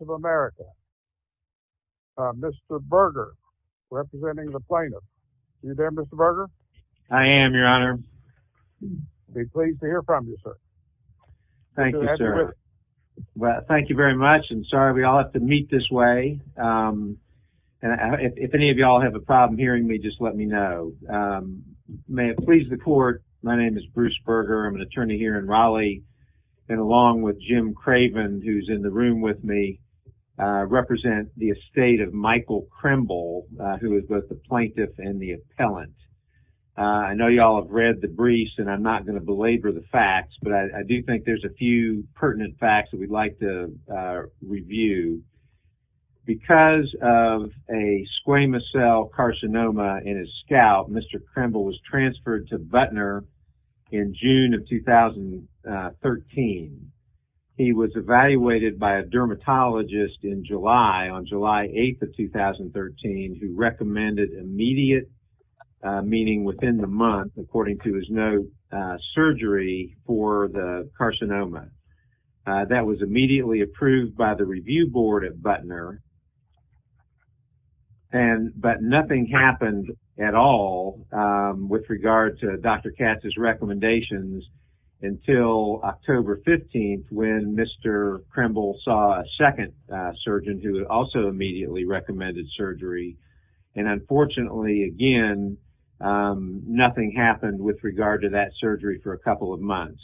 of America. Mr. Berger, representing the plaintiff. You there, Mr. Berger? I am, Your Honor. I'd have to meet this way. If any of y'all have a problem hearing me, just let me know. May it please the court, my name is Bruce Berger. I'm an attorney here in Raleigh, and along with Jim Craven, who's in the room with me, represent the estate of Michael Krembel, who is both the plaintiff and the appellant. I know y'all have read the briefs, and I'm not going to belabor the facts, but I do think there's a few pertinent facts that we'd like to address. Because of a squamous cell carcinoma in his scalp, Mr. Krembel was transferred to Butner in June of 2013. He was evaluated by a dermatologist in July, on July 8th of 2013, who recommended immediate, meaning within the month, according to his note, surgery for the carcinoma. That was immediately approved by the review board at Butner, but nothing happened at all with regard to Dr. Katz's recommendations until October 15th, when Mr. Krembel saw a second surgeon who also immediately recommended surgery. And unfortunately, again, nothing happened with regard to that surgery for a couple of months.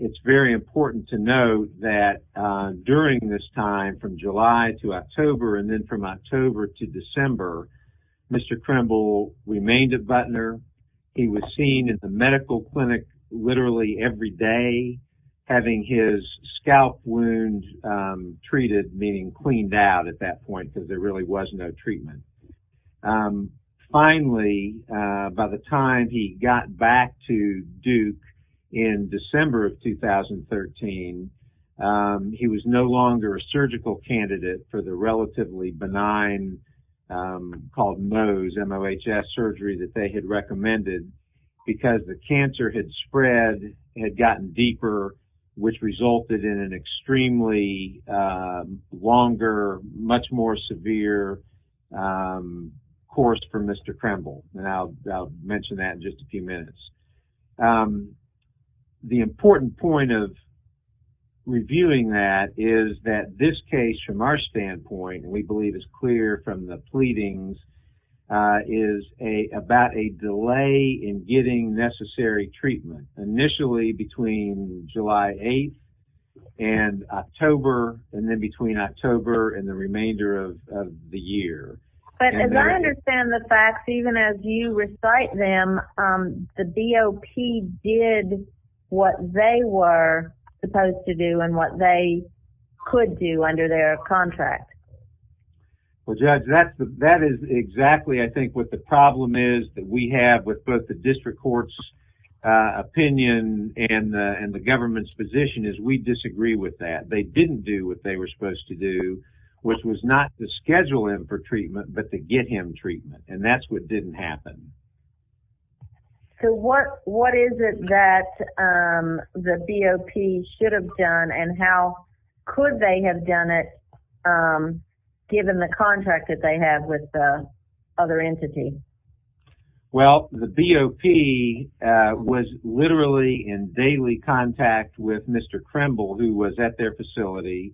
It's very important to note that during this time, from July to October, and then from October to December, Mr. Krembel remained at Butner. He was seen at the medical clinic literally every day, having his scalp wound treated, meaning cleaned out at that point, because there really was no treatment. Finally, by the time he got back to Duke in December of 2013, he was no longer a surgical candidate for the relatively benign, called nose, MOHS surgery that they had recommended, because the cancer had spread, had gotten deeper, which resulted in an extremely longer, much more severe, course for Mr. Krembel, and I'll mention that in just a few minutes. The important point of reviewing that is that this case, from our standpoint, and we believe it's clear from the pleadings, is about a delay in getting necessary treatment, initially between July 8th and October, and then between October and the remainder of the year. But as I understand the facts, even as you recite them, the DOP did what they were supposed to do and what they could do under their contract. Well, Judge, that is exactly, I think, what the problem is that we have with both the district court's opinion and the government's position, is we disagree with that. They didn't do what they were supposed to do, which was not to schedule him for treatment, but to get him treatment, and that's what didn't happen. So what is it that the DOP should have done, and how could they have done it, given the contract that they have with the other entity? Well, the BOP was literally in daily contact with Mr. Krembel, who was at their facility.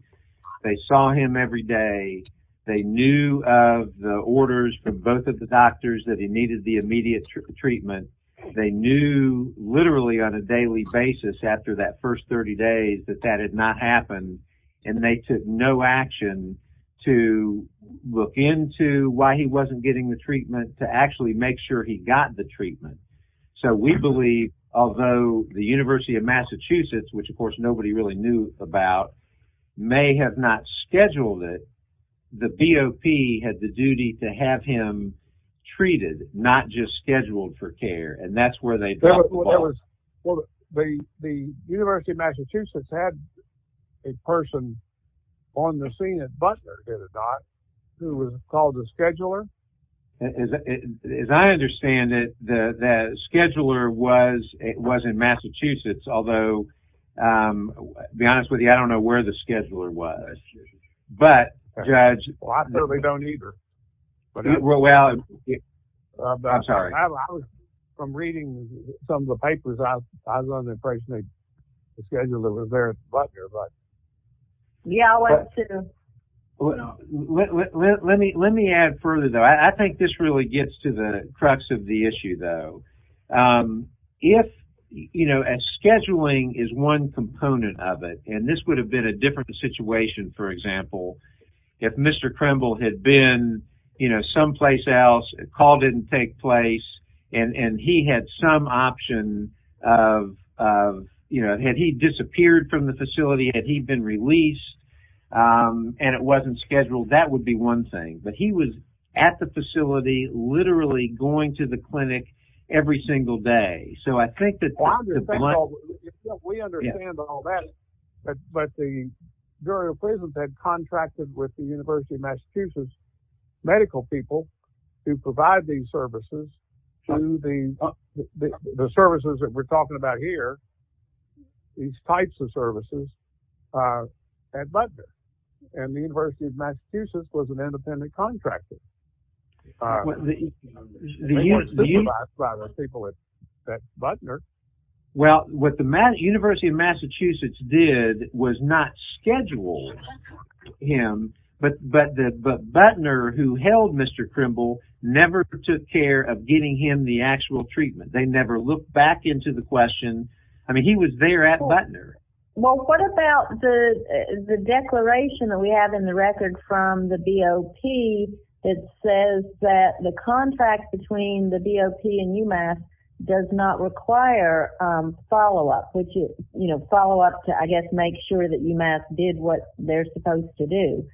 They saw him every day. They knew of the orders from both of the doctors that he needed the immediate treatment. They knew literally on a daily basis after that first 30 days that that had not happened, and they took no action to look into why he wasn't getting the treatment to actually make sure he got the treatment. So we believe, although the University of Massachusetts, which, of course, nobody really knew about, may have not scheduled it, the BOP had the duty to have him treated, not just scheduled for care, and that's where they dropped the ball. Well, the University of Massachusetts had a person on the scene at Butler, did it not, who was called the scheduler? As I understand it, the scheduler was in Massachusetts, although, to be honest with you, I don't know where the scheduler was. Well, I certainly don't either. I'm sorry. From reading some of the papers, I was under the impression that the scheduler was there at Butler. Yeah, I went to. Let me add further, though. I think this really gets to the crux of the issue, though. If, you know, scheduling is one component of it, and this would have been a different situation, for example, if Mr. Kremble had been, you know, someplace else, a call didn't take place, and he had some option of, you know, had he disappeared from the facility, had he been released? And it wasn't scheduled. That would be one thing. But he was at the facility, literally going to the clinic every single day. We understand all that. But the jury appraisal had contracted with the University of Massachusetts medical people to provide these services to the services that we're talking about here. These types of services at Butler and the University of Massachusetts was an independent contractor. They weren't supervised by the people at Butler. Well, what the University of Massachusetts did was not schedule him, but Butler, who held Mr. Kremble, never took care of getting him the actual treatment. They never looked back into the question. I mean, he was there at Butler. Well, what about the declaration that we have in the record from the BOP that says that the contract between the BOP and UMass does not require follow-up, which is, you know, follow-up to, I guess, make sure that UMass did what they're supposed to do?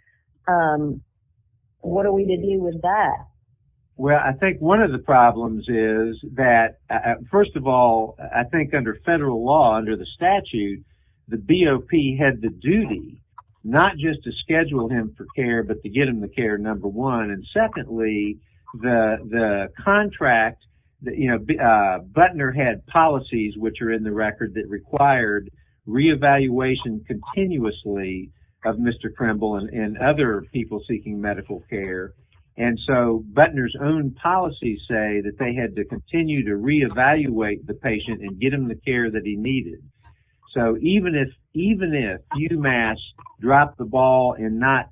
What are we to do with that? Well, I think one of the problems is that, first of all, I think under federal law, under the statute, the BOP had the duty not just to schedule him for care, but to get him the care, number one. And secondly, the contract, you know, Butler had policies, which are in the record, that required re-evaluation continuously of Mr. Kremble and other people seeking medical care. And so Butler's own policies say that they had to continue to re-evaluate the patient and get him the care that he needed. So even if UMass dropped the ball in not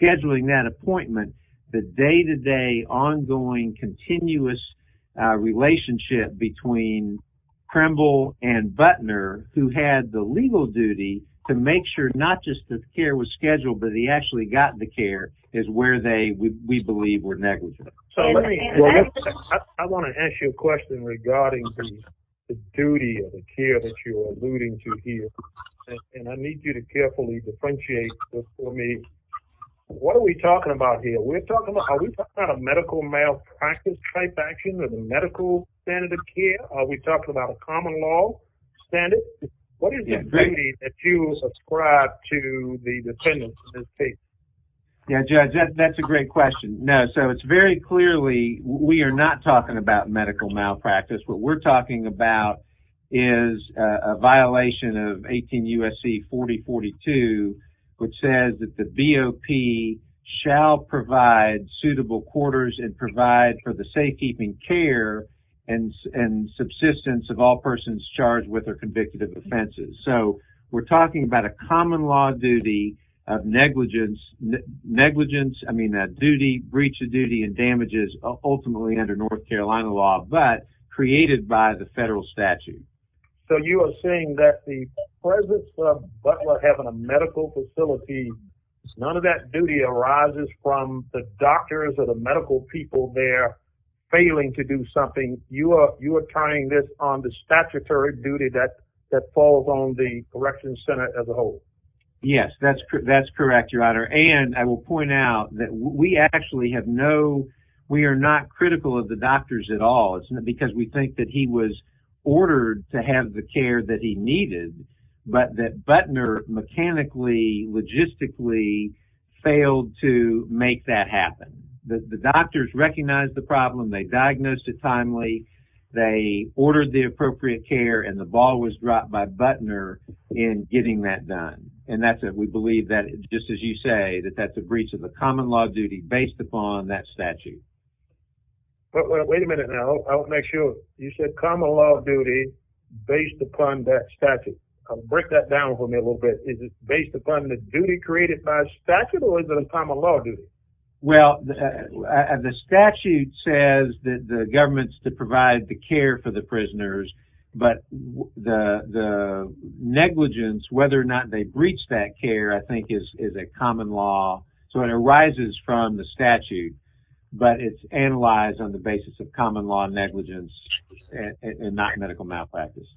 scheduling that appointment, the day-to-day, ongoing, continuous relationship between Kremble and Butler, who had the legal duty to make sure not just that the care was scheduled, but he actually got the care, is where we believe were negligent. I want to ask you a question regarding the duty of the care that you're alluding to here. And I need you to carefully differentiate this for me. What are we talking about here? Are we talking about a medical malpractice-type action or the medical standard of care? Are we talking about a common law standard? What is the duty that you ascribe to the defendant in this case? Yeah, Judge, that's a great question. No, so it's very clearly we are not talking about medical malpractice. What we're talking about is a violation of 18 U.S.C. 4042, which says that the BOP shall provide suitable quarters and provide for the safekeeping care and subsistence of all persons charged with or convicted of offenses. So we're talking about a common law duty of negligence. Negligence, I mean, that duty, breach of duty and damages ultimately under North Carolina law, but created by the federal statute. So you are saying that the presence of Butler having a medical facility, none of that duty arises from the doctors or the medical people there failing to do something. And you are tying this on the statutory duty that falls on the corrections center as a whole. Yes, that's correct, Your Honor. And I will point out that we actually have no – we are not critical of the doctors at all. It's not because we think that he was ordered to have the care that he needed, but that Butler mechanically, logistically failed to make that happen. The doctors recognized the problem. They diagnosed it timely. They ordered the appropriate care, and the ball was dropped by Butler in getting that done. And that's it. We believe that, just as you say, that that's a breach of the common law duty based upon that statute. Wait a minute now. I want to make sure. You said common law duty based upon that statute. Break that down for me a little bit. Is it based upon the duty created by statute, or is it a common law duty? Well, the statute says that the government's to provide the care for the prisoners, but the negligence, whether or not they breach that care, I think is a common law. So it arises from the statute, but it's analyzed on the basis of common law negligence and not medical malpractice.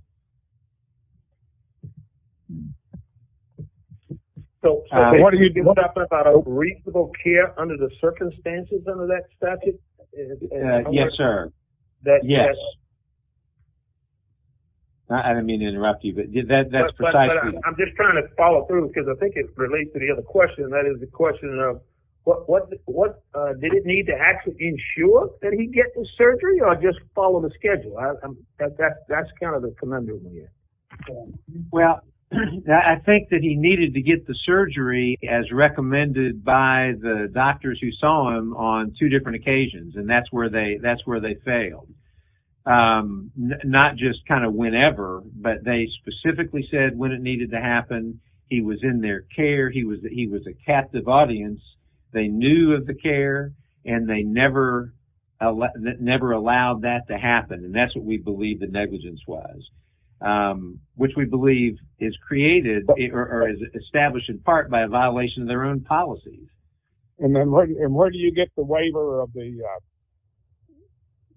So what are you talking about? A reasonable care under the circumstances under that statute? Yes, sir. Yes. I didn't mean to interrupt you, but that's precisely. I'm just trying to follow through, because I think it relates to the other question, and that is the question of did it need to actually ensure that he get the surgery or just follow the schedule? That's kind of the conundrum here. Well, I think that he needed to get the surgery as recommended by the doctors who saw him on two different occasions, and that's where they failed. Not just kind of whenever, but they specifically said when it needed to happen. He was in their care. He was a captive audience. They knew of the care, and they never allowed that to happen, and that's what we believe the negligence was, which we believe is created or is established in part by a violation of their own policy. And where do you get the waiver of the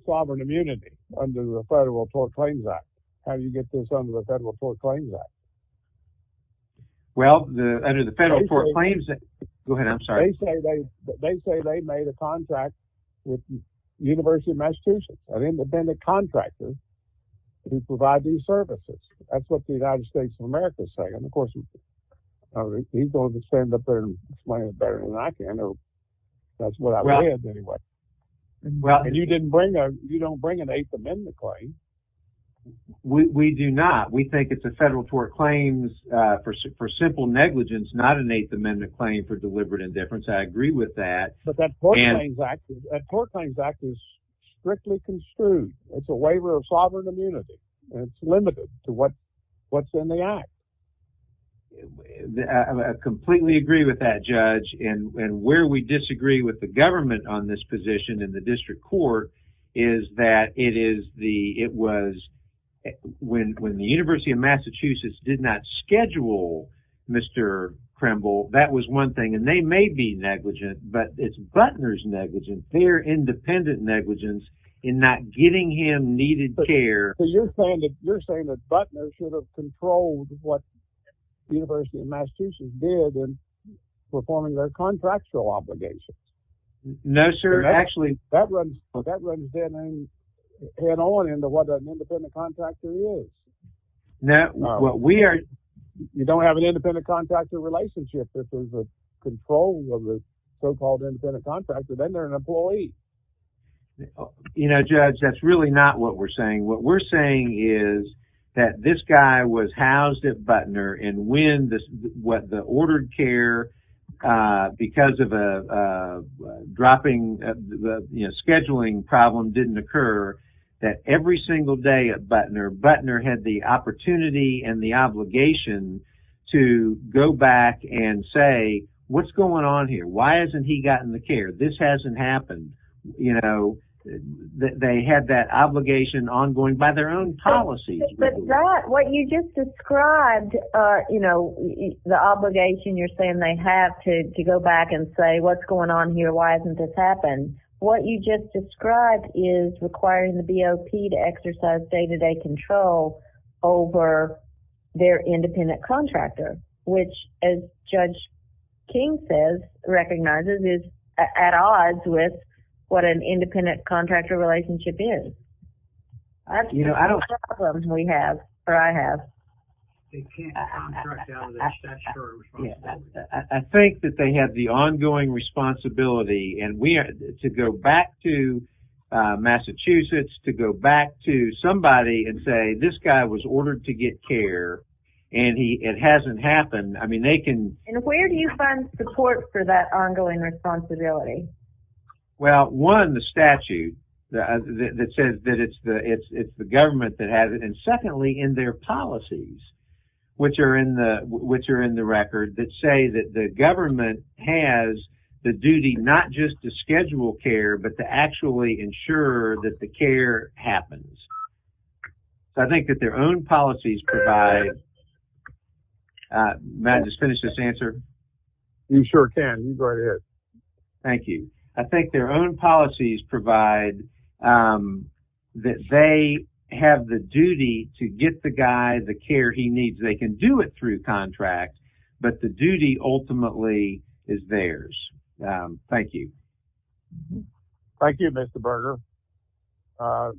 sovereign immunity under the Federal Tort Claims Act? How do you get this under the Federal Tort Claims Act? Well, under the Federal Tort Claims Act. Go ahead. I'm sorry. They say they made a contract with the University of Massachusetts, an independent contractor, to provide these services. That's what the United States of America is saying. Of course, he's going to stand up there and explain it better than I can. That's what I read, anyway. And you don't bring an eighth amendment claim. We do not. We think it's a Federal Tort Claims for simple negligence, not an eighth amendment claim for deliberate indifference. I agree with that. But that Tort Claims Act is strictly construed. It's a waiver of sovereign immunity. It's limited to what's in the act. I completely agree with that, Judge. And where we disagree with the government on this position in the district court is that it was when the University of Massachusetts did not schedule Mr. Kremble, that was one thing. And they may be negligent, but it's Butner's negligence, their independent negligence, in not getting him needed care. You're saying that Butner should have controlled what the University of Massachusetts did in performing their contractual obligations. No, sir. Actually... That runs head on into what an independent contractor is. You don't have an independent contractor relationship if there's a control of the so-called independent contractor. Then they're an employee. You know, Judge, that's really not what we're saying. What we're saying is that this guy was housed at Butner, and when the ordered care, because of a scheduling problem didn't occur, that every single day at Butner, Butner had the opportunity and the obligation to go back and say, what's going on here? Why hasn't he gotten the care? This hasn't happened. You know, they had that obligation ongoing by their own policies. But that, what you just described, you know, the obligation you're saying they have to go back and say, what's going on here? Why hasn't this happened? What you just described is requiring the BOP to exercise day-to-day control over their independent contractor, which, as Judge King says, recognizes is at odds with what an independent contractor relationship is. You know, I don't... That's the problem we have, or I have. They can't contract out of their statutory responsibility. I think that they have the ongoing responsibility to go back to Massachusetts, to go back to somebody and say, this guy was ordered to get care, and it hasn't happened. I mean, they can... And where do you find support for that ongoing responsibility? Well, one, the statute that says that it's the government that has it. And secondly, in their policies, which are in the record, that say that the government has the duty not just to schedule care, but to actually ensure that the care happens. I think that their own policies provide... May I just finish this answer? You sure can. You go right ahead. Thank you. I think their own policies provide that they have the duty to get the guy the care he needs. They can do it through contract, but the duty ultimately is theirs. Thank you. Thank you, Mr. Berger. Let's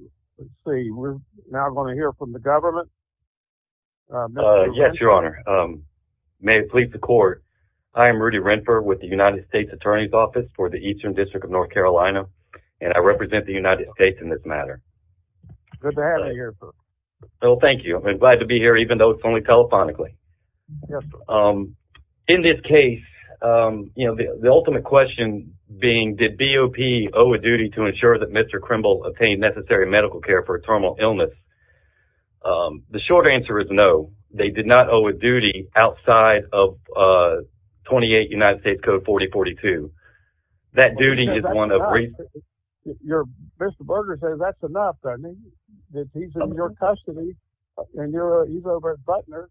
see. We're now going to hear from the government. Yes, Your Honor. May it please the Court. I am Rudy Renfer with the United States Attorney's Office for the Eastern District of North Carolina, and I represent the United States in this matter. Good to have you here, sir. Well, thank you. I'm glad to be here, even though it's only telephonically. Yes, sir. In this case, the ultimate question being, did BOP owe a duty to ensure that Mr. Krimble obtained necessary medical care for a terminal illness? The short answer is no. They did not owe a duty outside of 28 United States Code 4042. That duty is one of... Mr. Berger says that's enough, doesn't he? He's in your custody, and he's over at Butler,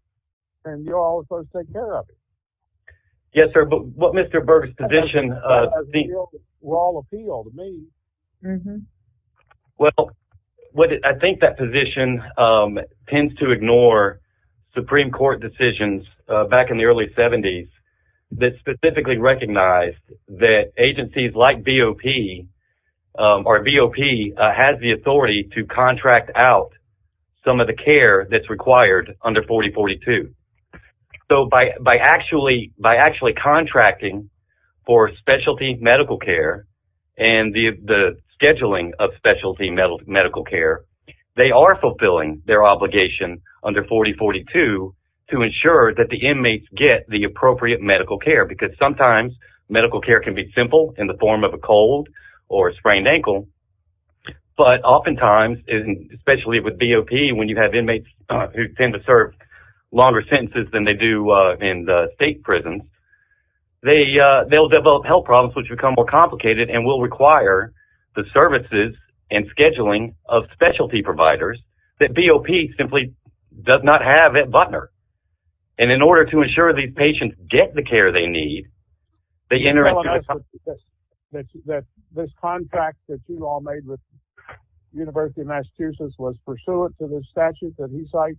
and you're all supposed to take care of him. Yes, sir. But what Mr. Berger's position seems... Rawl appeal to me. Well, I think that position tends to ignore Supreme Court decisions back in the early 70s that specifically recognized that agencies like BOP, or BOP has the authority to contract out some of the care that's required under 4042. So by actually contracting for specialty medical care and the scheduling of specialty medical care, they are fulfilling their obligation under 4042 to ensure that the inmates get the appropriate medical care, because sometimes medical care can be simple in the form of a cold or a sprained ankle. But oftentimes, especially with BOP, when you have inmates who tend to serve longer sentences than they do in the state prisons, they'll develop health problems which become more complicated and will require the services and scheduling of specialty providers that BOP simply does not have at Butler. And in order to ensure these patients get the care they need, they enter into... That this contract that you all made with the University of Massachusetts was pursuant to the statute that he cites?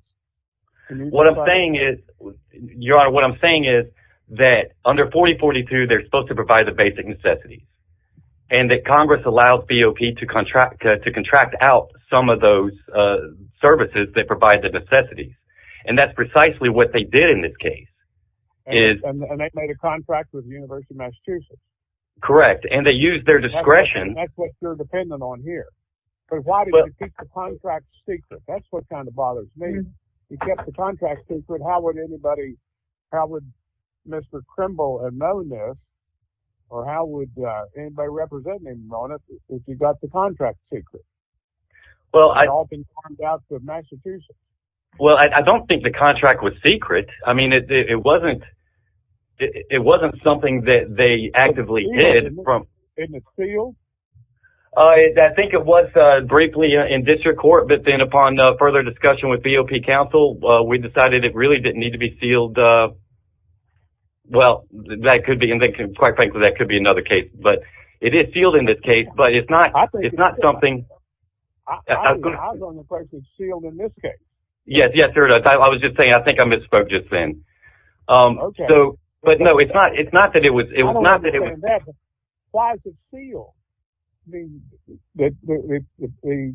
What I'm saying is, Your Honor, what I'm saying is that under 4042, they're supposed to provide the basic necessities and that Congress allows BOP to contract out some of those services that provide the necessities. And that's precisely what they did in this case. And they made a contract with the University of Massachusetts? Correct. And they used their discretion. That's what you're dependent on here. But why did you keep the contract secret? That's what kind of bothers me. You kept the contract secret. How would anybody... How would Mr. Krimble have known this? Or how would anybody representing him know this if you got the contract secret? Well, I... It had all been signed out to Massachusetts. Well, I don't think the contract was secret. I mean, it wasn't... It wasn't something that they actively did from... In the field? I think it was briefly in district court. But then upon further discussion with BOP counsel, we decided it really didn't need to be sealed. Well, that could be... And quite frankly, that could be another case. But it is sealed in this case. But it's not... It's not something... I was the only person sealed in this case. Yes, yes, Your Honor. I was just saying, I think I misspoke just then. Okay. So... But no, it's not... It's not that it was... It was not that it was... Why is it sealed? I mean, the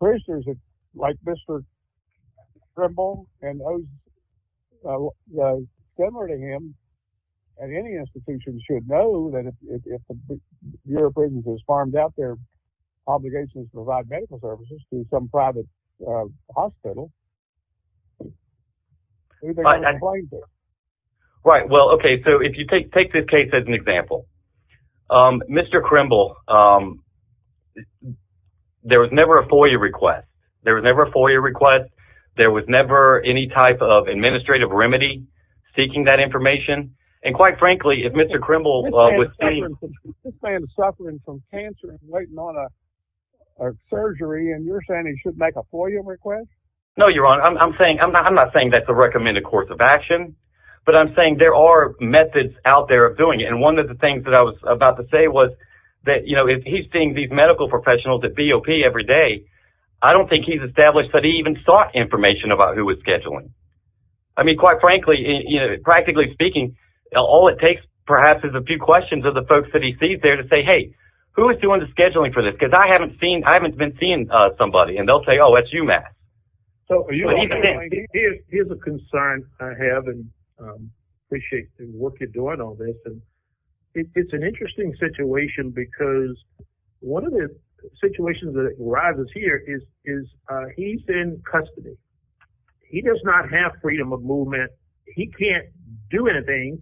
prisoners like Mr. Krimble and those similar to him at any institution should know that if a European is farmed out, their obligation is to provide medical services to some private hospital. Right. Well, okay. So if you take this case as an example, Mr. Krimble, there was never a FOIA request. There was never a FOIA request. There was never any type of administrative remedy seeking that information. And quite frankly, if Mr. Krimble was... This man is suffering from cancer and waiting on a surgery and you're saying he should make a FOIA request? No, Your Honor. I'm saying... I'm not saying that's a recommended course of action, but I'm saying there are methods out there of doing it. And one of the things that I was about to say was that, you know, if he's seeing these medical professionals at BOP every day, I don't think he's established that he even sought information about who was scheduling. I mean, quite frankly, you know, practically speaking, all it takes perhaps is a few questions of the folks that he sees there to say, hey, who is doing the scheduling for this? Because I haven't seen... I haven't been seeing somebody. And they'll say, oh, that's you, Matt. Here's a concern I have and appreciate the work you're doing on this. And it's an interesting situation because one of the situations that arises here is he's in custody. He does not have freedom of movement. He can't do anything.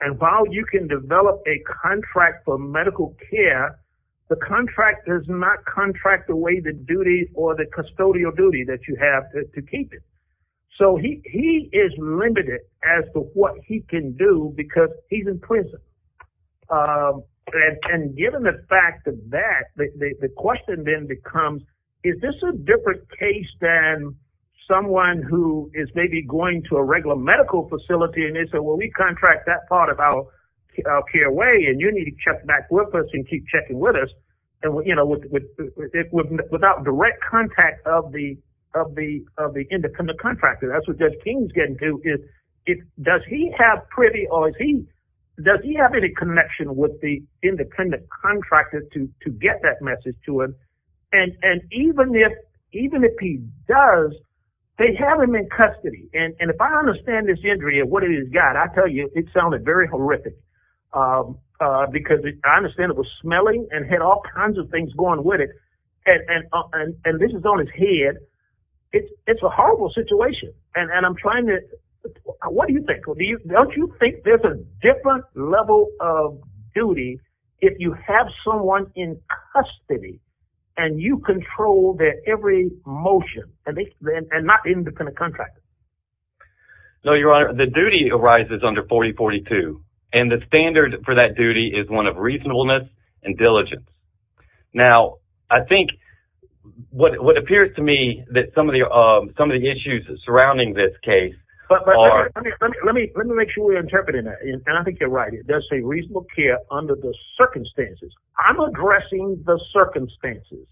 And while you can develop a contract for medical care, the contract does not contract away the duty or the custodial duty that you have to keep it. So he is limited as to what he can do because he's in prison. And given the fact of that, the question then becomes, is this a different case than someone who is maybe going to a regular medical facility? And they say, well, we contract that part of our care away and you need to check back with us and keep checking with us. Without direct contact of the independent contractor, that's what Judge King is getting to. Does he have privy or does he have any connection with the independent contractor to get that message to him? And even if he does, they have him in custody. And if I understand this injury and what it has got, I tell you, it sounded very horrific. Because I understand it was smelling and had all kinds of things going with it. And this is on his head. It's a horrible situation. And I'm trying to, what do you think? Don't you think there's a different level of duty if you have someone in custody and you control their every motion and not the independent contractor? No, Your Honor. The duty arises under 4042. And the standard for that duty is one of reasonableness and diligence. Now, I think what appears to me that some of the issues surrounding this case are... Let me make sure we're interpreting that. And I think you're right. It does say reasonable care under the circumstances. I'm addressing the circumstances.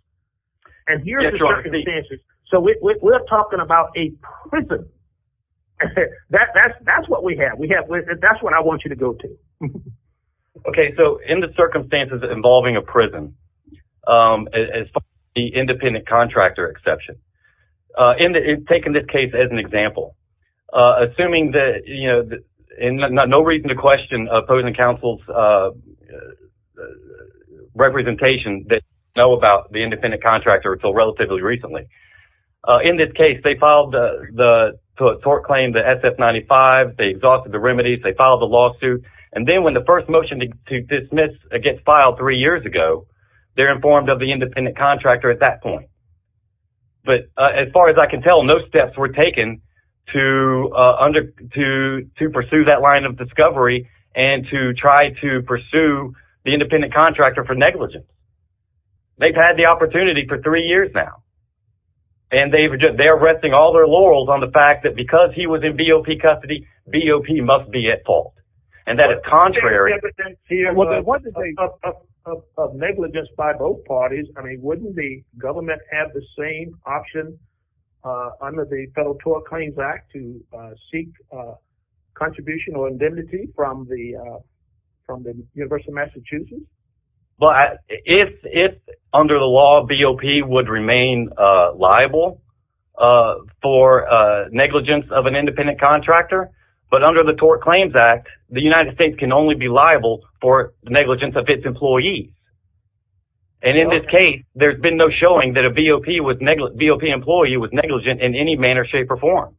And here's the circumstances. So we're talking about a prison. That's what we have. That's what I want you to go to. Okay. So in the circumstances involving a prison, as far as the independent contractor exception, I'm taking this case as an example. Assuming that, you know, no reason to question opposing counsel's representation, they know about the independent contractor until relatively recently. In this case, they filed the tort claim, the SF-95. They exhausted the remedies. They filed the lawsuit. And then when the first motion to dismiss gets filed three years ago, they're informed of the independent contractor at that point. As far as I can tell, no steps were taken to pursue that line of discovery and to try to pursue the independent contractor for negligence. They've had the opportunity for three years now. And they're resting all their laurels on the fact that because he was in BOP custody, BOP must be at fault. And that is contrary... ...of negligence by both parties. I mean, wouldn't the government have the same option under the Federal Tort Claims Act to seek contribution or indemnity from the University of Massachusetts? If under the law, BOP would remain liable for negligence of an independent contractor. But under the Tort Claims Act, the United States can only be liable for negligence of its employee. And in this case, there's been no showing that a BOP employee was negligent in any manner, shape, or form.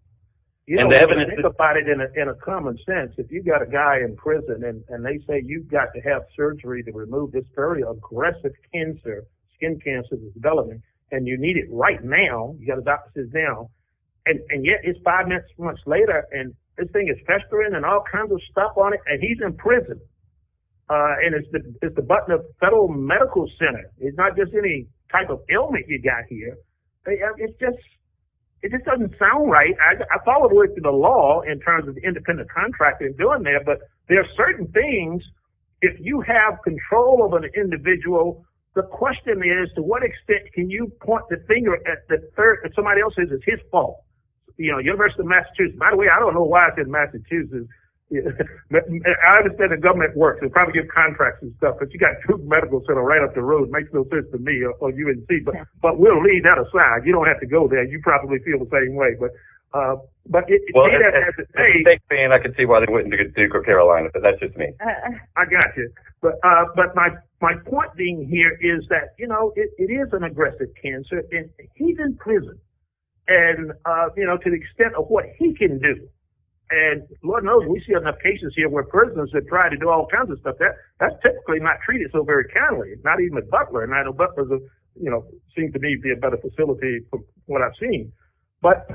You don't have to think about it in a common sense. If you've got a guy in prison and they say, you've got to have surgery to remove this very aggressive skin cancer, and you need it right now, you've got to doctor this now, and yet it's five months later and this thing is festering and all kinds of stuff on it, and he's in prison. And it's the button of the Federal Medical Center. It's not just any type of ailment you've got here. It just doesn't sound right. I follow the law in terms of independent contractors doing that, but there are certain things, if you have control of an individual, the question is, to what extent can you point the finger at somebody else who says it's his fault? You know, the University of Massachusetts. By the way, I don't know why I said Massachusetts. I understand the government works. They probably give contracts and stuff. But you've got the Federal Medical Center right up the road. It makes no sense to me or you and me, but we'll leave that aside. You don't have to go there. You probably feel the same way. I can see why they wouldn't do it for Carolina, but that's just me. I got you. But my point being here is that it is an aggressive cancer, and he's in prison to the extent of what he can do. And Lord knows we see enough cases here where prisoners have tried to do all kinds of stuff. That's typically not treated so very kindly. Not even a butler, and I know butlers seem to be a better facility from what I've seen. But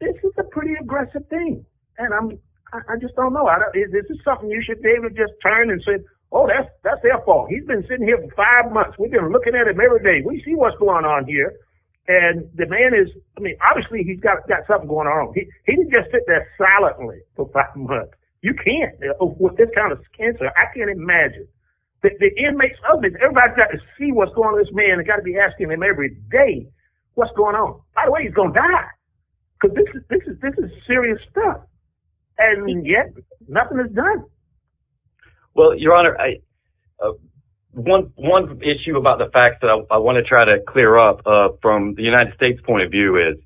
this is a pretty aggressive thing, and I just don't know. This is something you should be able to just turn and say, oh, that's their fault. He's been sitting here for five months. We've been looking at him every day. We see what's going on here, and the man is, I mean, obviously he's got something going on. He didn't just sit there silently for five months. You can't with this kind of cancer. I can't imagine. The inmates, everybody's got to see what's going on with this man. They've got to be asking him every day what's going on. By the way, he's going to die, because this is serious stuff. And yet nothing is done. Well, Your Honor, one issue about the facts that I want to try to clear up from the United States' point of view is,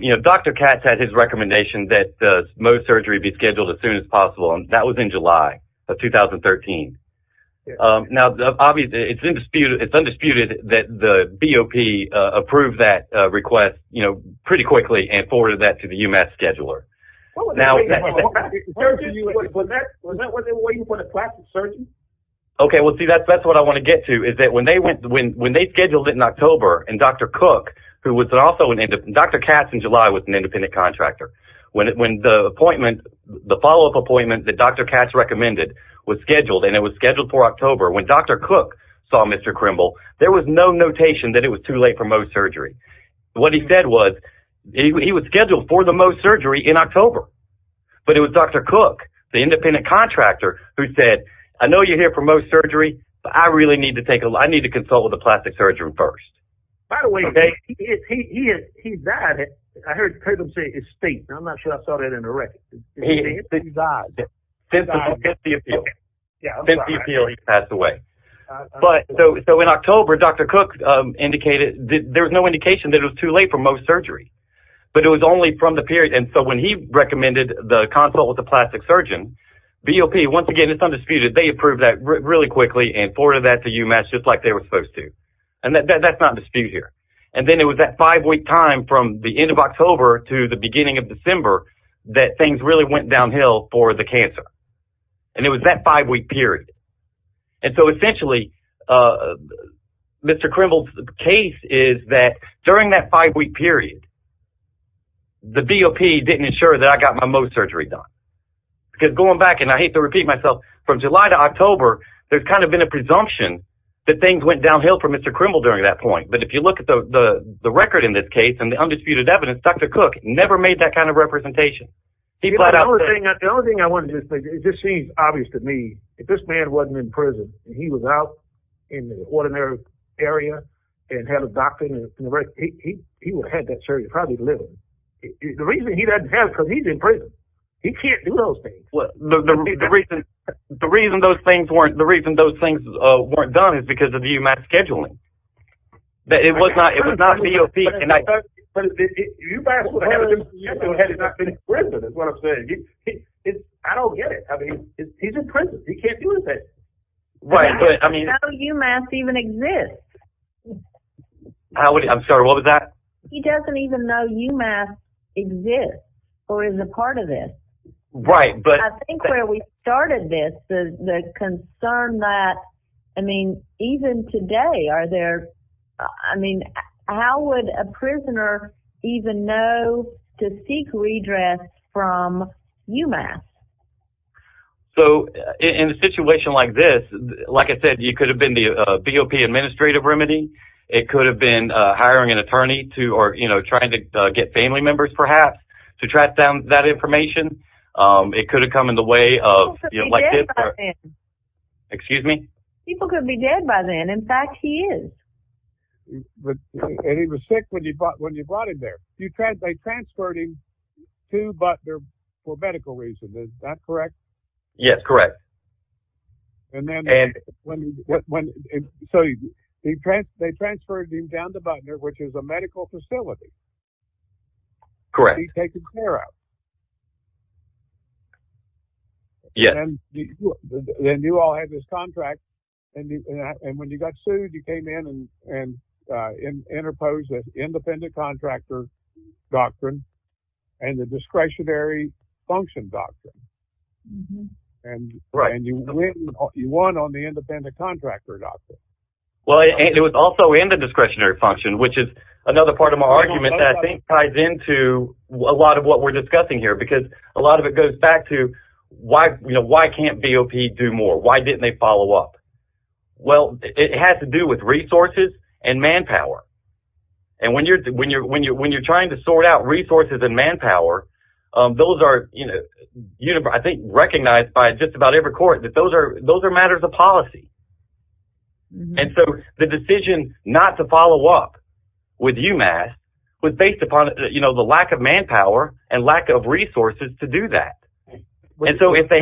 you know, Dr. Katz had his recommendation that Mohs surgery be scheduled as soon as possible, and that was in July of 2013. Now, obviously, it's undisputed that the BOP approved that request, you know, pretty quickly and forwarded that to the UMass scheduler. Was that when they were waiting for the plastic surgeon? Okay, well, see, that's what I want to get to is that when they scheduled it in October and Dr. Cook, who was also an independent, Dr. Katz in July was an independent contractor. When the appointment, the follow-up appointment that Dr. Katz recommended was scheduled, and it was scheduled for October, when Dr. Cook saw Mr. Krimble, there was no notation that it was too late for Mohs surgery. What he said was, he was scheduled for the Mohs surgery in October. But it was Dr. Cook, the independent contractor, who said, I know you're here for Mohs surgery, but I really need to consult with the plastic surgeon first. Now, by the way, he died. I heard Krimble say he's state. I'm not sure I saw that in the record. He died. Since the appeal, he passed away. So, in October, Dr. Cook indicated, there was no indication that it was too late for Mohs surgery. But it was only from the period, and so when he recommended the consult with the plastic surgeon, BOP, once again, it's undisputed, they approved that really quickly and forwarded that to UMass just like they were supposed to. And that's not in dispute here. And then it was that five-week time from the end of October to the beginning of December that things really went downhill for the cancer. And it was that five-week period. And so essentially, Mr. Krimble's case is that during that five-week period, the BOP didn't ensure that I got my Mohs surgery done. Because going back, and I hate to repeat myself, from July to October, there's kind of been a presumption that things went downhill for Mr. Krimble during that point. But if you look at the record in this case, and the undisputed evidence, Dr. Cook never made that kind of representation. The only thing I wanted to say, it just seems obvious to me, if this man wasn't in prison, and he was out in an ordinary area, and had a doctorate, he would have had that surgery probably literally. The reason he doesn't have it is because he's in prison. He can't do those things. The reason those things weren't done is because of the UMass scheduling. It was not BOP. If you ask him if he hasn't been in prison, that's what I'm saying, I don't get it. He's in prison. He can't do those things. I don't know UMass even exists. I'm sorry, what was that? He doesn't even know UMass exists, or is a part of it. I think where we started this, the concern that, even today, how would a prisoner even know to seek redress from UMass? In a situation like this, like I said, you could have been the BOP administrative remedy, it could have been hiring an attorney, or trying to get family members perhaps, to track down that information. It could have come in the way of... People could be dead by then. Excuse me? People could be dead by then. In fact, he is. And he was sick when you brought him there. They transferred him to Butner for medical reasons, is that correct? Yes, correct. So they transferred him down to Butner, which is a medical facility. Correct. To be taken care of. Yes. And you all had this contract, and when you got sued, you came in and interposed the independent contractor doctrine, and the discretionary function doctrine. Right. And you won on the independent contractor doctrine. Well, it was also in the discretionary function, which is another part of my argument, that I think ties into a lot of what we're discussing here, because a lot of it goes back to, why can't BOP do more? Why didn't they follow up? Well, it has to do with resources and manpower. And when you're trying to sort out resources and manpower, those are, I think, recognized by just about every court, that those are matters of policy. And so the decision not to follow up with UMass was based upon the lack of manpower and lack of resources to do that. And so if they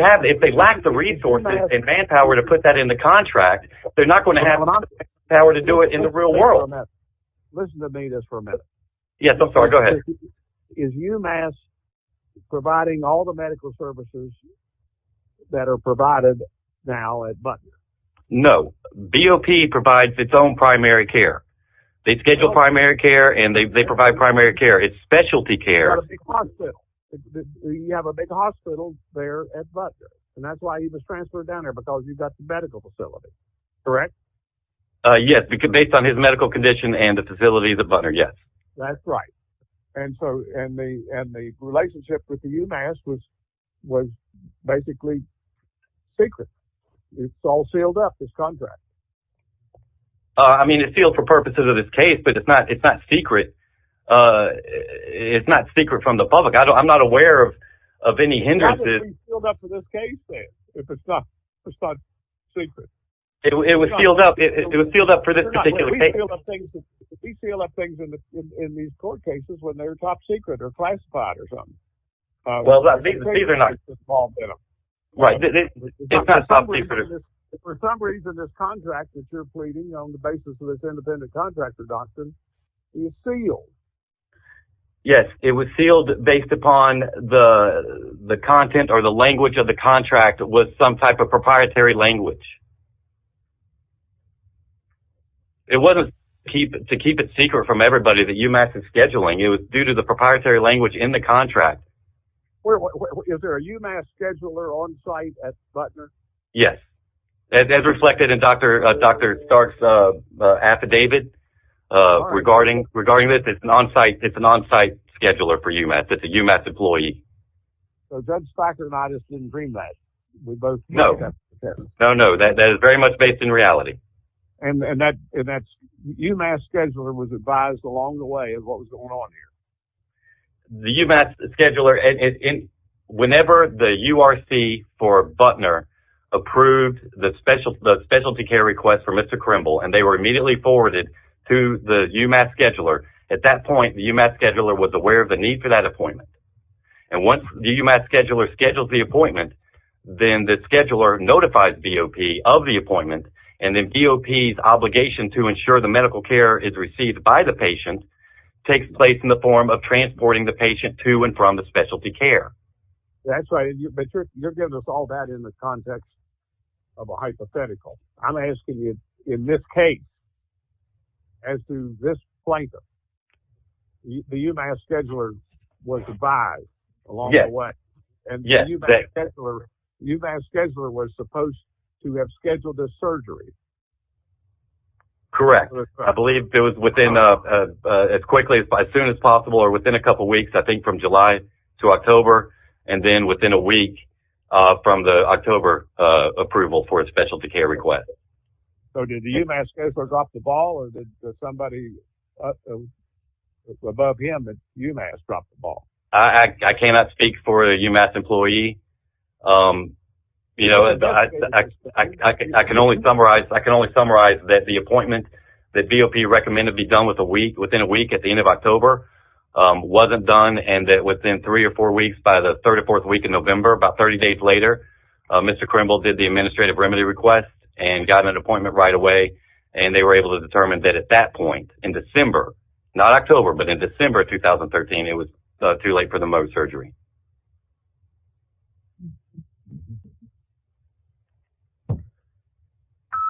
lack the resources and manpower to put that in the contract, they're not going to have the power to do it in the real world. Listen to me just for a minute. Yes, I'm sorry, go ahead. Is UMass providing all the medical services that are provided now at Butner? No, BOP provides its own primary care. They schedule primary care and they provide primary care. It's specialty care. You have a big hospital there at Butner, and that's why he was transferred down there, because you've got the medical facility, correct? Yes, based on his medical condition and the facilities at Butner, yes. That's right. And the relationship with UMass was basically secret. It's all sealed up, this contract. I mean, it's sealed for purposes of this case, but it's not secret. It's not secret from the public. I'm not aware of any hindrances. How can it be sealed up for this case if it's not classified secret? It was sealed up for this particular case. We seal up things in these court cases when they're top secret or classified or something. Well, these are not. Right. For some reason, this contract that you're pleading on the basis of this independent contract reduction is sealed. Yes, it was sealed based upon the content or the language of the contract was some type of proprietary language. It wasn't to keep it secret from everybody that UMass is scheduling. It was due to the proprietary language in the contract. Is there a UMass scheduler on site at Butner? Yes, as reflected in Dr. Stark's affidavit regarding this. It's an on-site scheduler for UMass. It's a UMass employee. So Judge Spiker and I just didn't dream that? No, no, no. That is very much based in reality. And that UMass scheduler was advised along the way of what was going on here? The UMass scheduler, whenever the URC for Butner approved the specialty care request for Mr. Krimble, and they were immediately forwarded to the UMass scheduler, at that point the UMass scheduler was aware of the need for that appointment. And once the UMass scheduler schedules the appointment, then the scheduler notifies BOP of the appointment, and then BOP's obligation to ensure the medical care is received by the patient takes place in the form of transporting the patient to and from the specialty care. That's right, but you're giving us all that in the context of a hypothetical. I'm asking you, in this case, as to this plaintiff, the UMass scheduler was advised along the way. And the UMass scheduler was supposed to have scheduled the surgery? Correct. I believe it was within, as quickly as soon as possible, or within a couple of weeks, I think from July to October, and then within a week from the October approval for a specialty care request. So did the UMass scheduler drop the ball, or did somebody above him, the UMass, drop the ball? I cannot speak for a UMass employee. I can only summarize that the appointment that BOP recommended be done within a week at the end of October wasn't done, and that within three or four weeks, by the third or fourth week in November, about 30 days later, Mr. Krimble did the administrative remedy request and got an appointment right away. And they were able to determine that at that point, in December, not October, but in December of 2013, it was too late for the Mohs surgery.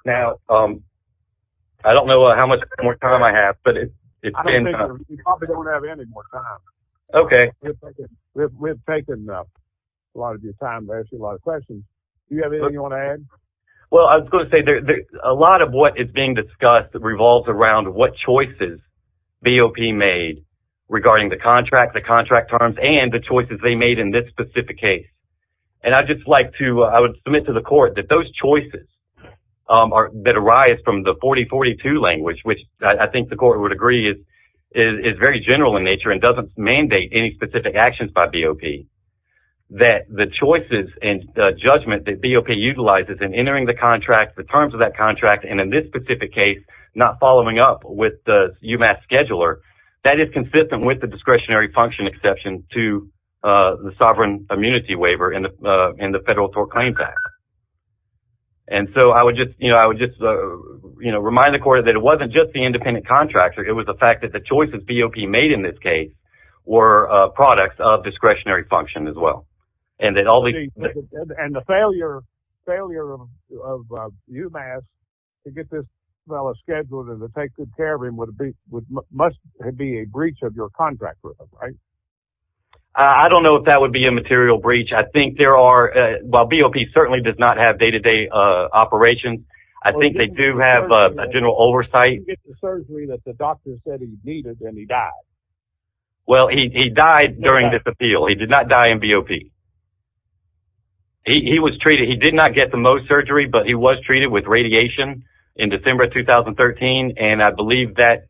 Now, I don't know how much more time I have, but it's been... I don't think we probably don't have any more time. Okay. We've taken a lot of your time to answer a lot of questions. Do you have anything you want to add? Well, I was going to say, a lot of what is being discussed revolves around what choices BOP made regarding the contract, the contract terms, and the choices they made in this specific case. And I would submit to the court that those choices that arise from the 40-42 language, which I think the court would agree is very general in nature and doesn't mandate any specific actions by BOP, that the choices and judgment that BOP utilizes in entering the contract, the terms of that contract, and in this specific case, not following up with the UMAS scheduler, that is consistent with the discretionary function exception to the sovereign immunity waiver in the Federal Tort Claims Act. And so I would just remind the court that it wasn't just the independent contractor, it was the fact that the choices BOP made in this case were products of discretionary function as well. And that all these... And the failure of UMAS to get this fellow scheduled and to take good care of him must be a breach of your contract, right? I don't know if that would be a material breach. I think there are... While BOP certainly does not have day-to-day operations, I think they do have a general oversight. He didn't get the surgery that the doctor said he needed, and he died. Well, he died during this appeal. He did not die in BOP. He was treated... He did not get the Mohs surgery, but he was treated with radiation in December 2013, and I believe that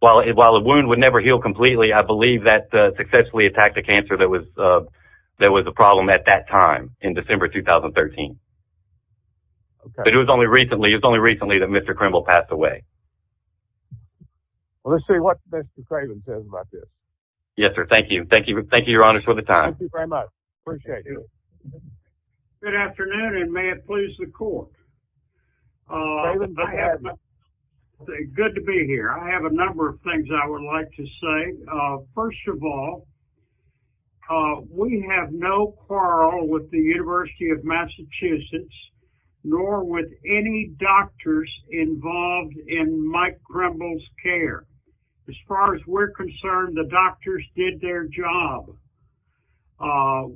while the wound would never heal completely, I believe that successfully attacked a cancer that was a problem at that time, in December 2013. But it was only recently that Mr. Krimble passed away. Well, let's see what Mr. Craven says about this. Yes, sir. Thank you. Thank you, Your Honor, for the time. I appreciate it. Good afternoon, and may it please the Court. David, go ahead. Good to be here. I have a number of things I would like to say. First of all, we have no quarrel with the University of Massachusetts nor with any doctors involved in Mike Krimble's care. As far as we're concerned, the doctors did their job.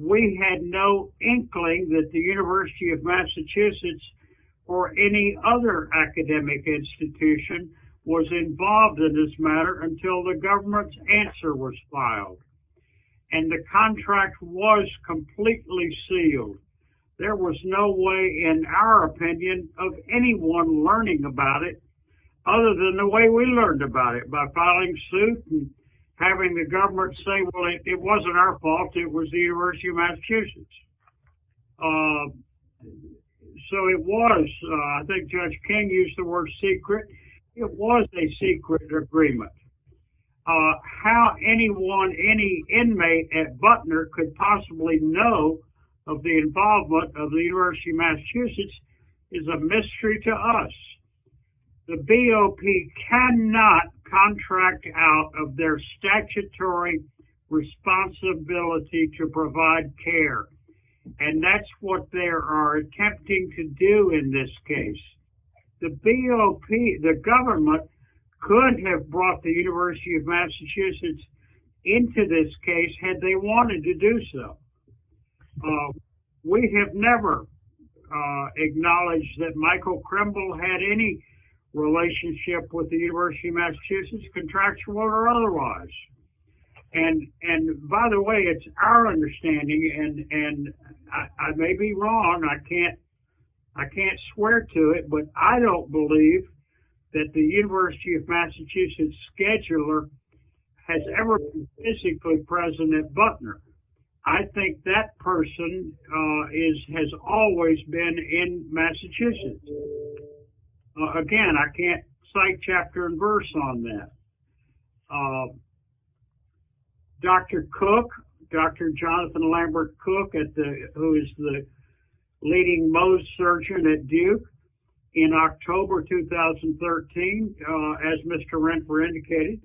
We had no inkling that the University of Massachusetts or any other academic institution was involved in this matter until the government's answer was filed, and the contract was completely sealed. There was no way, in our opinion, of anyone learning about it other than the way we learned about it, by filing suit and having the government say, well, it wasn't our fault, it was the University of Massachusetts. So it was, I think Judge King used the word secret, it was a secret agreement. How anyone, any inmate at Butner could possibly know of the involvement of the University of Massachusetts is a mystery to us. The BOP cannot contract out of their statutory responsibility to provide care. And that's what they are attempting to do in this case. The BOP, the government, couldn't have brought the University of Massachusetts into this case had they wanted to do so. We have never acknowledged that Michael Krimble had any relationship with the University of Massachusetts, contractual or otherwise. And by the way, it's our understanding, and I may be wrong, I can't swear to it, but I don't believe that the University of Massachusetts scheduler has ever been physically present at Butner. I think that person has always been in Massachusetts. Again, I can't cite chapter and verse on that. Dr. Cook, Dr. Jonathan Lambert Cook, who is the leading Mohs surgeon at Duke, in October 2013, as Mr. Renter indicated,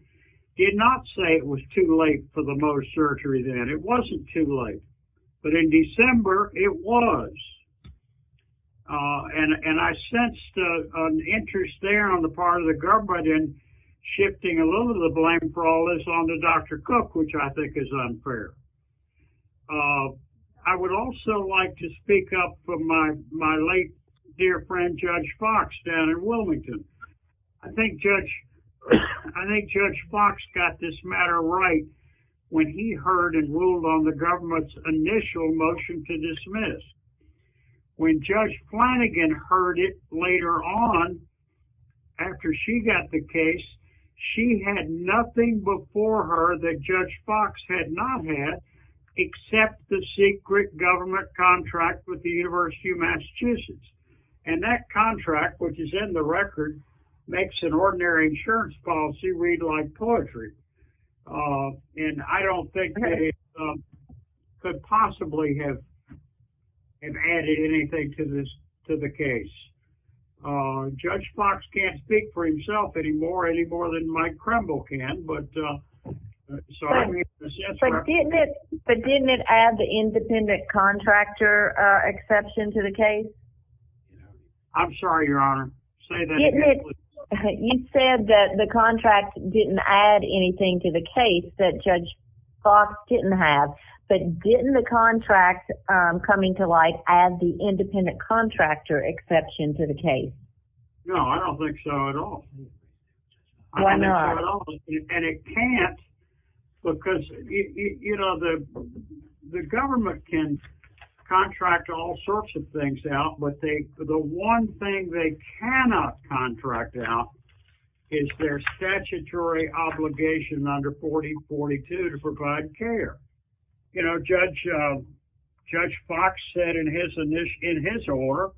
did not say it was too late for the Mohs surgery then. It wasn't too late. But in December, it was. And I sensed an interest there on the part of the government in shifting a little of the blame for all this onto Dr. Cook, which I think is unfair. I would also like to speak up for my late dear friend Judge Fox down in Wilmington. I think Judge Fox got this matter right when he heard and ruled on the government's initial motion to dismiss. When Judge Flanagan heard it later on, after she got the case, she had nothing before her that Judge Fox had not had except the secret government contract with the University of Massachusetts. And that contract, which is in the record, makes an ordinary insurance policy read like poetry. And I don't think they could possibly have added anything to the case. Judge Fox can't speak for himself anymore, any more than Mike Kremble can. But didn't it add the independent contractor exception to the case? I'm sorry, Your Honor. You said that the contract didn't add anything to the case that Judge Fox didn't have. But didn't the contract coming to light add the independent contractor exception to the case? No, I don't think so at all. Why not? And it can't because, you know, the government can contract all sorts of things out, but the one thing they cannot contract out is their statutory obligation under 4042 to provide care. You know, Judge Fox said in his order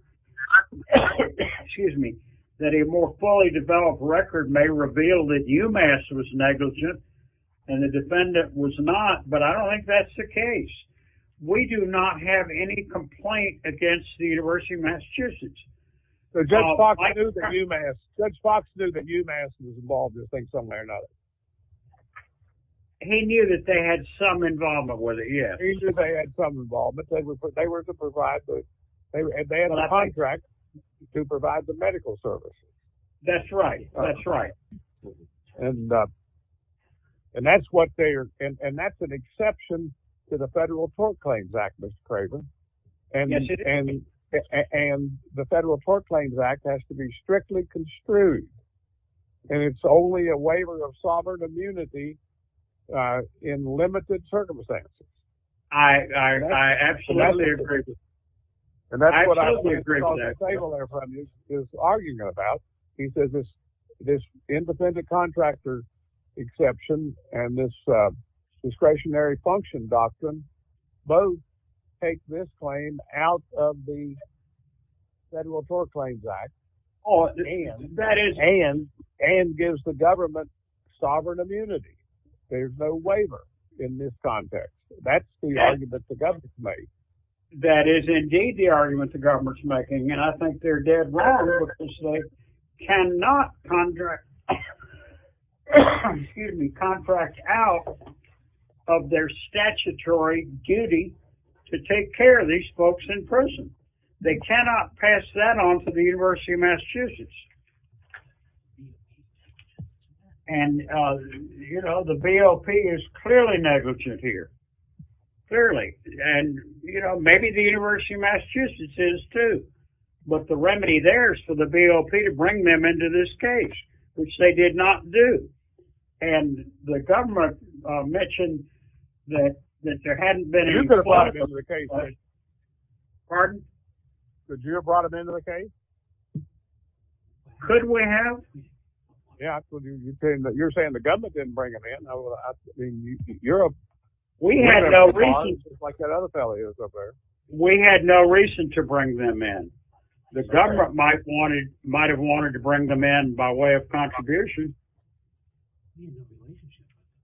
that a more fully developed record may reveal that UMass was negligent and the defendant was not, but I don't think that's the case. We do not have any complaint against the University of Massachusetts. So Judge Fox knew that UMass was involved in this thing some way or another? He knew that they had some involvement with it, yes. He knew they had some involvement. They had a contract to provide the medical services. That's right, that's right. And that's an exception to the Federal Port Claims Act, Mr. Craven. Yes, it is. And the Federal Port Claims Act has to be strictly construed and it's only a waiver of sovereign immunity in limited circumstances. I absolutely agree with that. And that's what I was going to call the table there is arguing about. He says this indefendent contractor exception and this discretionary function doctrine both take this claim out of the Federal Port Claims Act and gives the government sovereign immunity. There's no waiver in this context. That's the argument the government's made. That is indeed the argument the government's making and I think they're dead wrong because they cannot contract out of their statutory duty to take care of these folks in prison. They cannot pass that on to the University of Massachusetts. And, you know, the BOP is clearly negligent here. Clearly. And, you know, maybe the University of Massachusetts is too. But the remedy there is for the BOP to bring them into this case, which they did not do. And the government mentioned that there hadn't been any... You could have brought them into the case. Pardon? Could you have brought them into the case? Could we have? Yeah, you're saying the government didn't bring them in. You're a... We had no reason... We had no reason to bring them in. The government might have wanted to bring them in by way of contribution.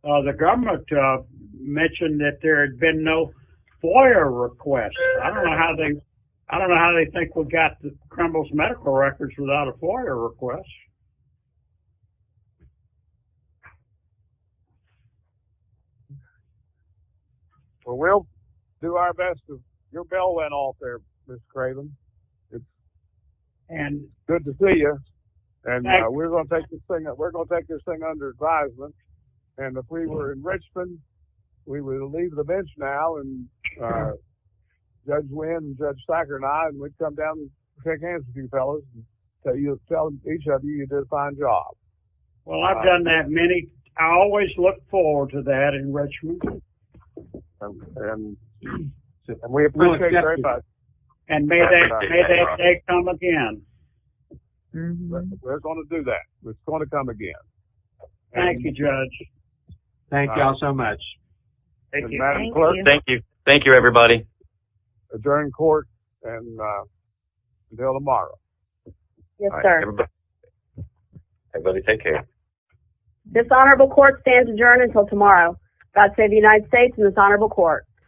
The government mentioned that there had been no FOIA request. I don't know how they... I don't know how they think we got the criminals' medical records without a FOIA request. Well, we'll do our best. Your bell went off there, Ms. Craven. And... Good to see you. And we're going to take this thing under advisement. And if we were in Richmond, we would leave the bench now, and Judge Wynn and Judge Thacker and I, and we'd come down and shake hands with you fellas. So you'll tell each of you you did a fine job. Well, I've done that many... I always look forward to that in Richmond. And we appreciate you very much. And may that day come again. It's going to come again. Thank you, Judge. Thank you all so much. Thank you. Thank you, everybody. Adjourn court until tomorrow. Yes, sir. Everybody take care. Dishonorable court stands adjourned until tomorrow. God save the United States and this honorable court.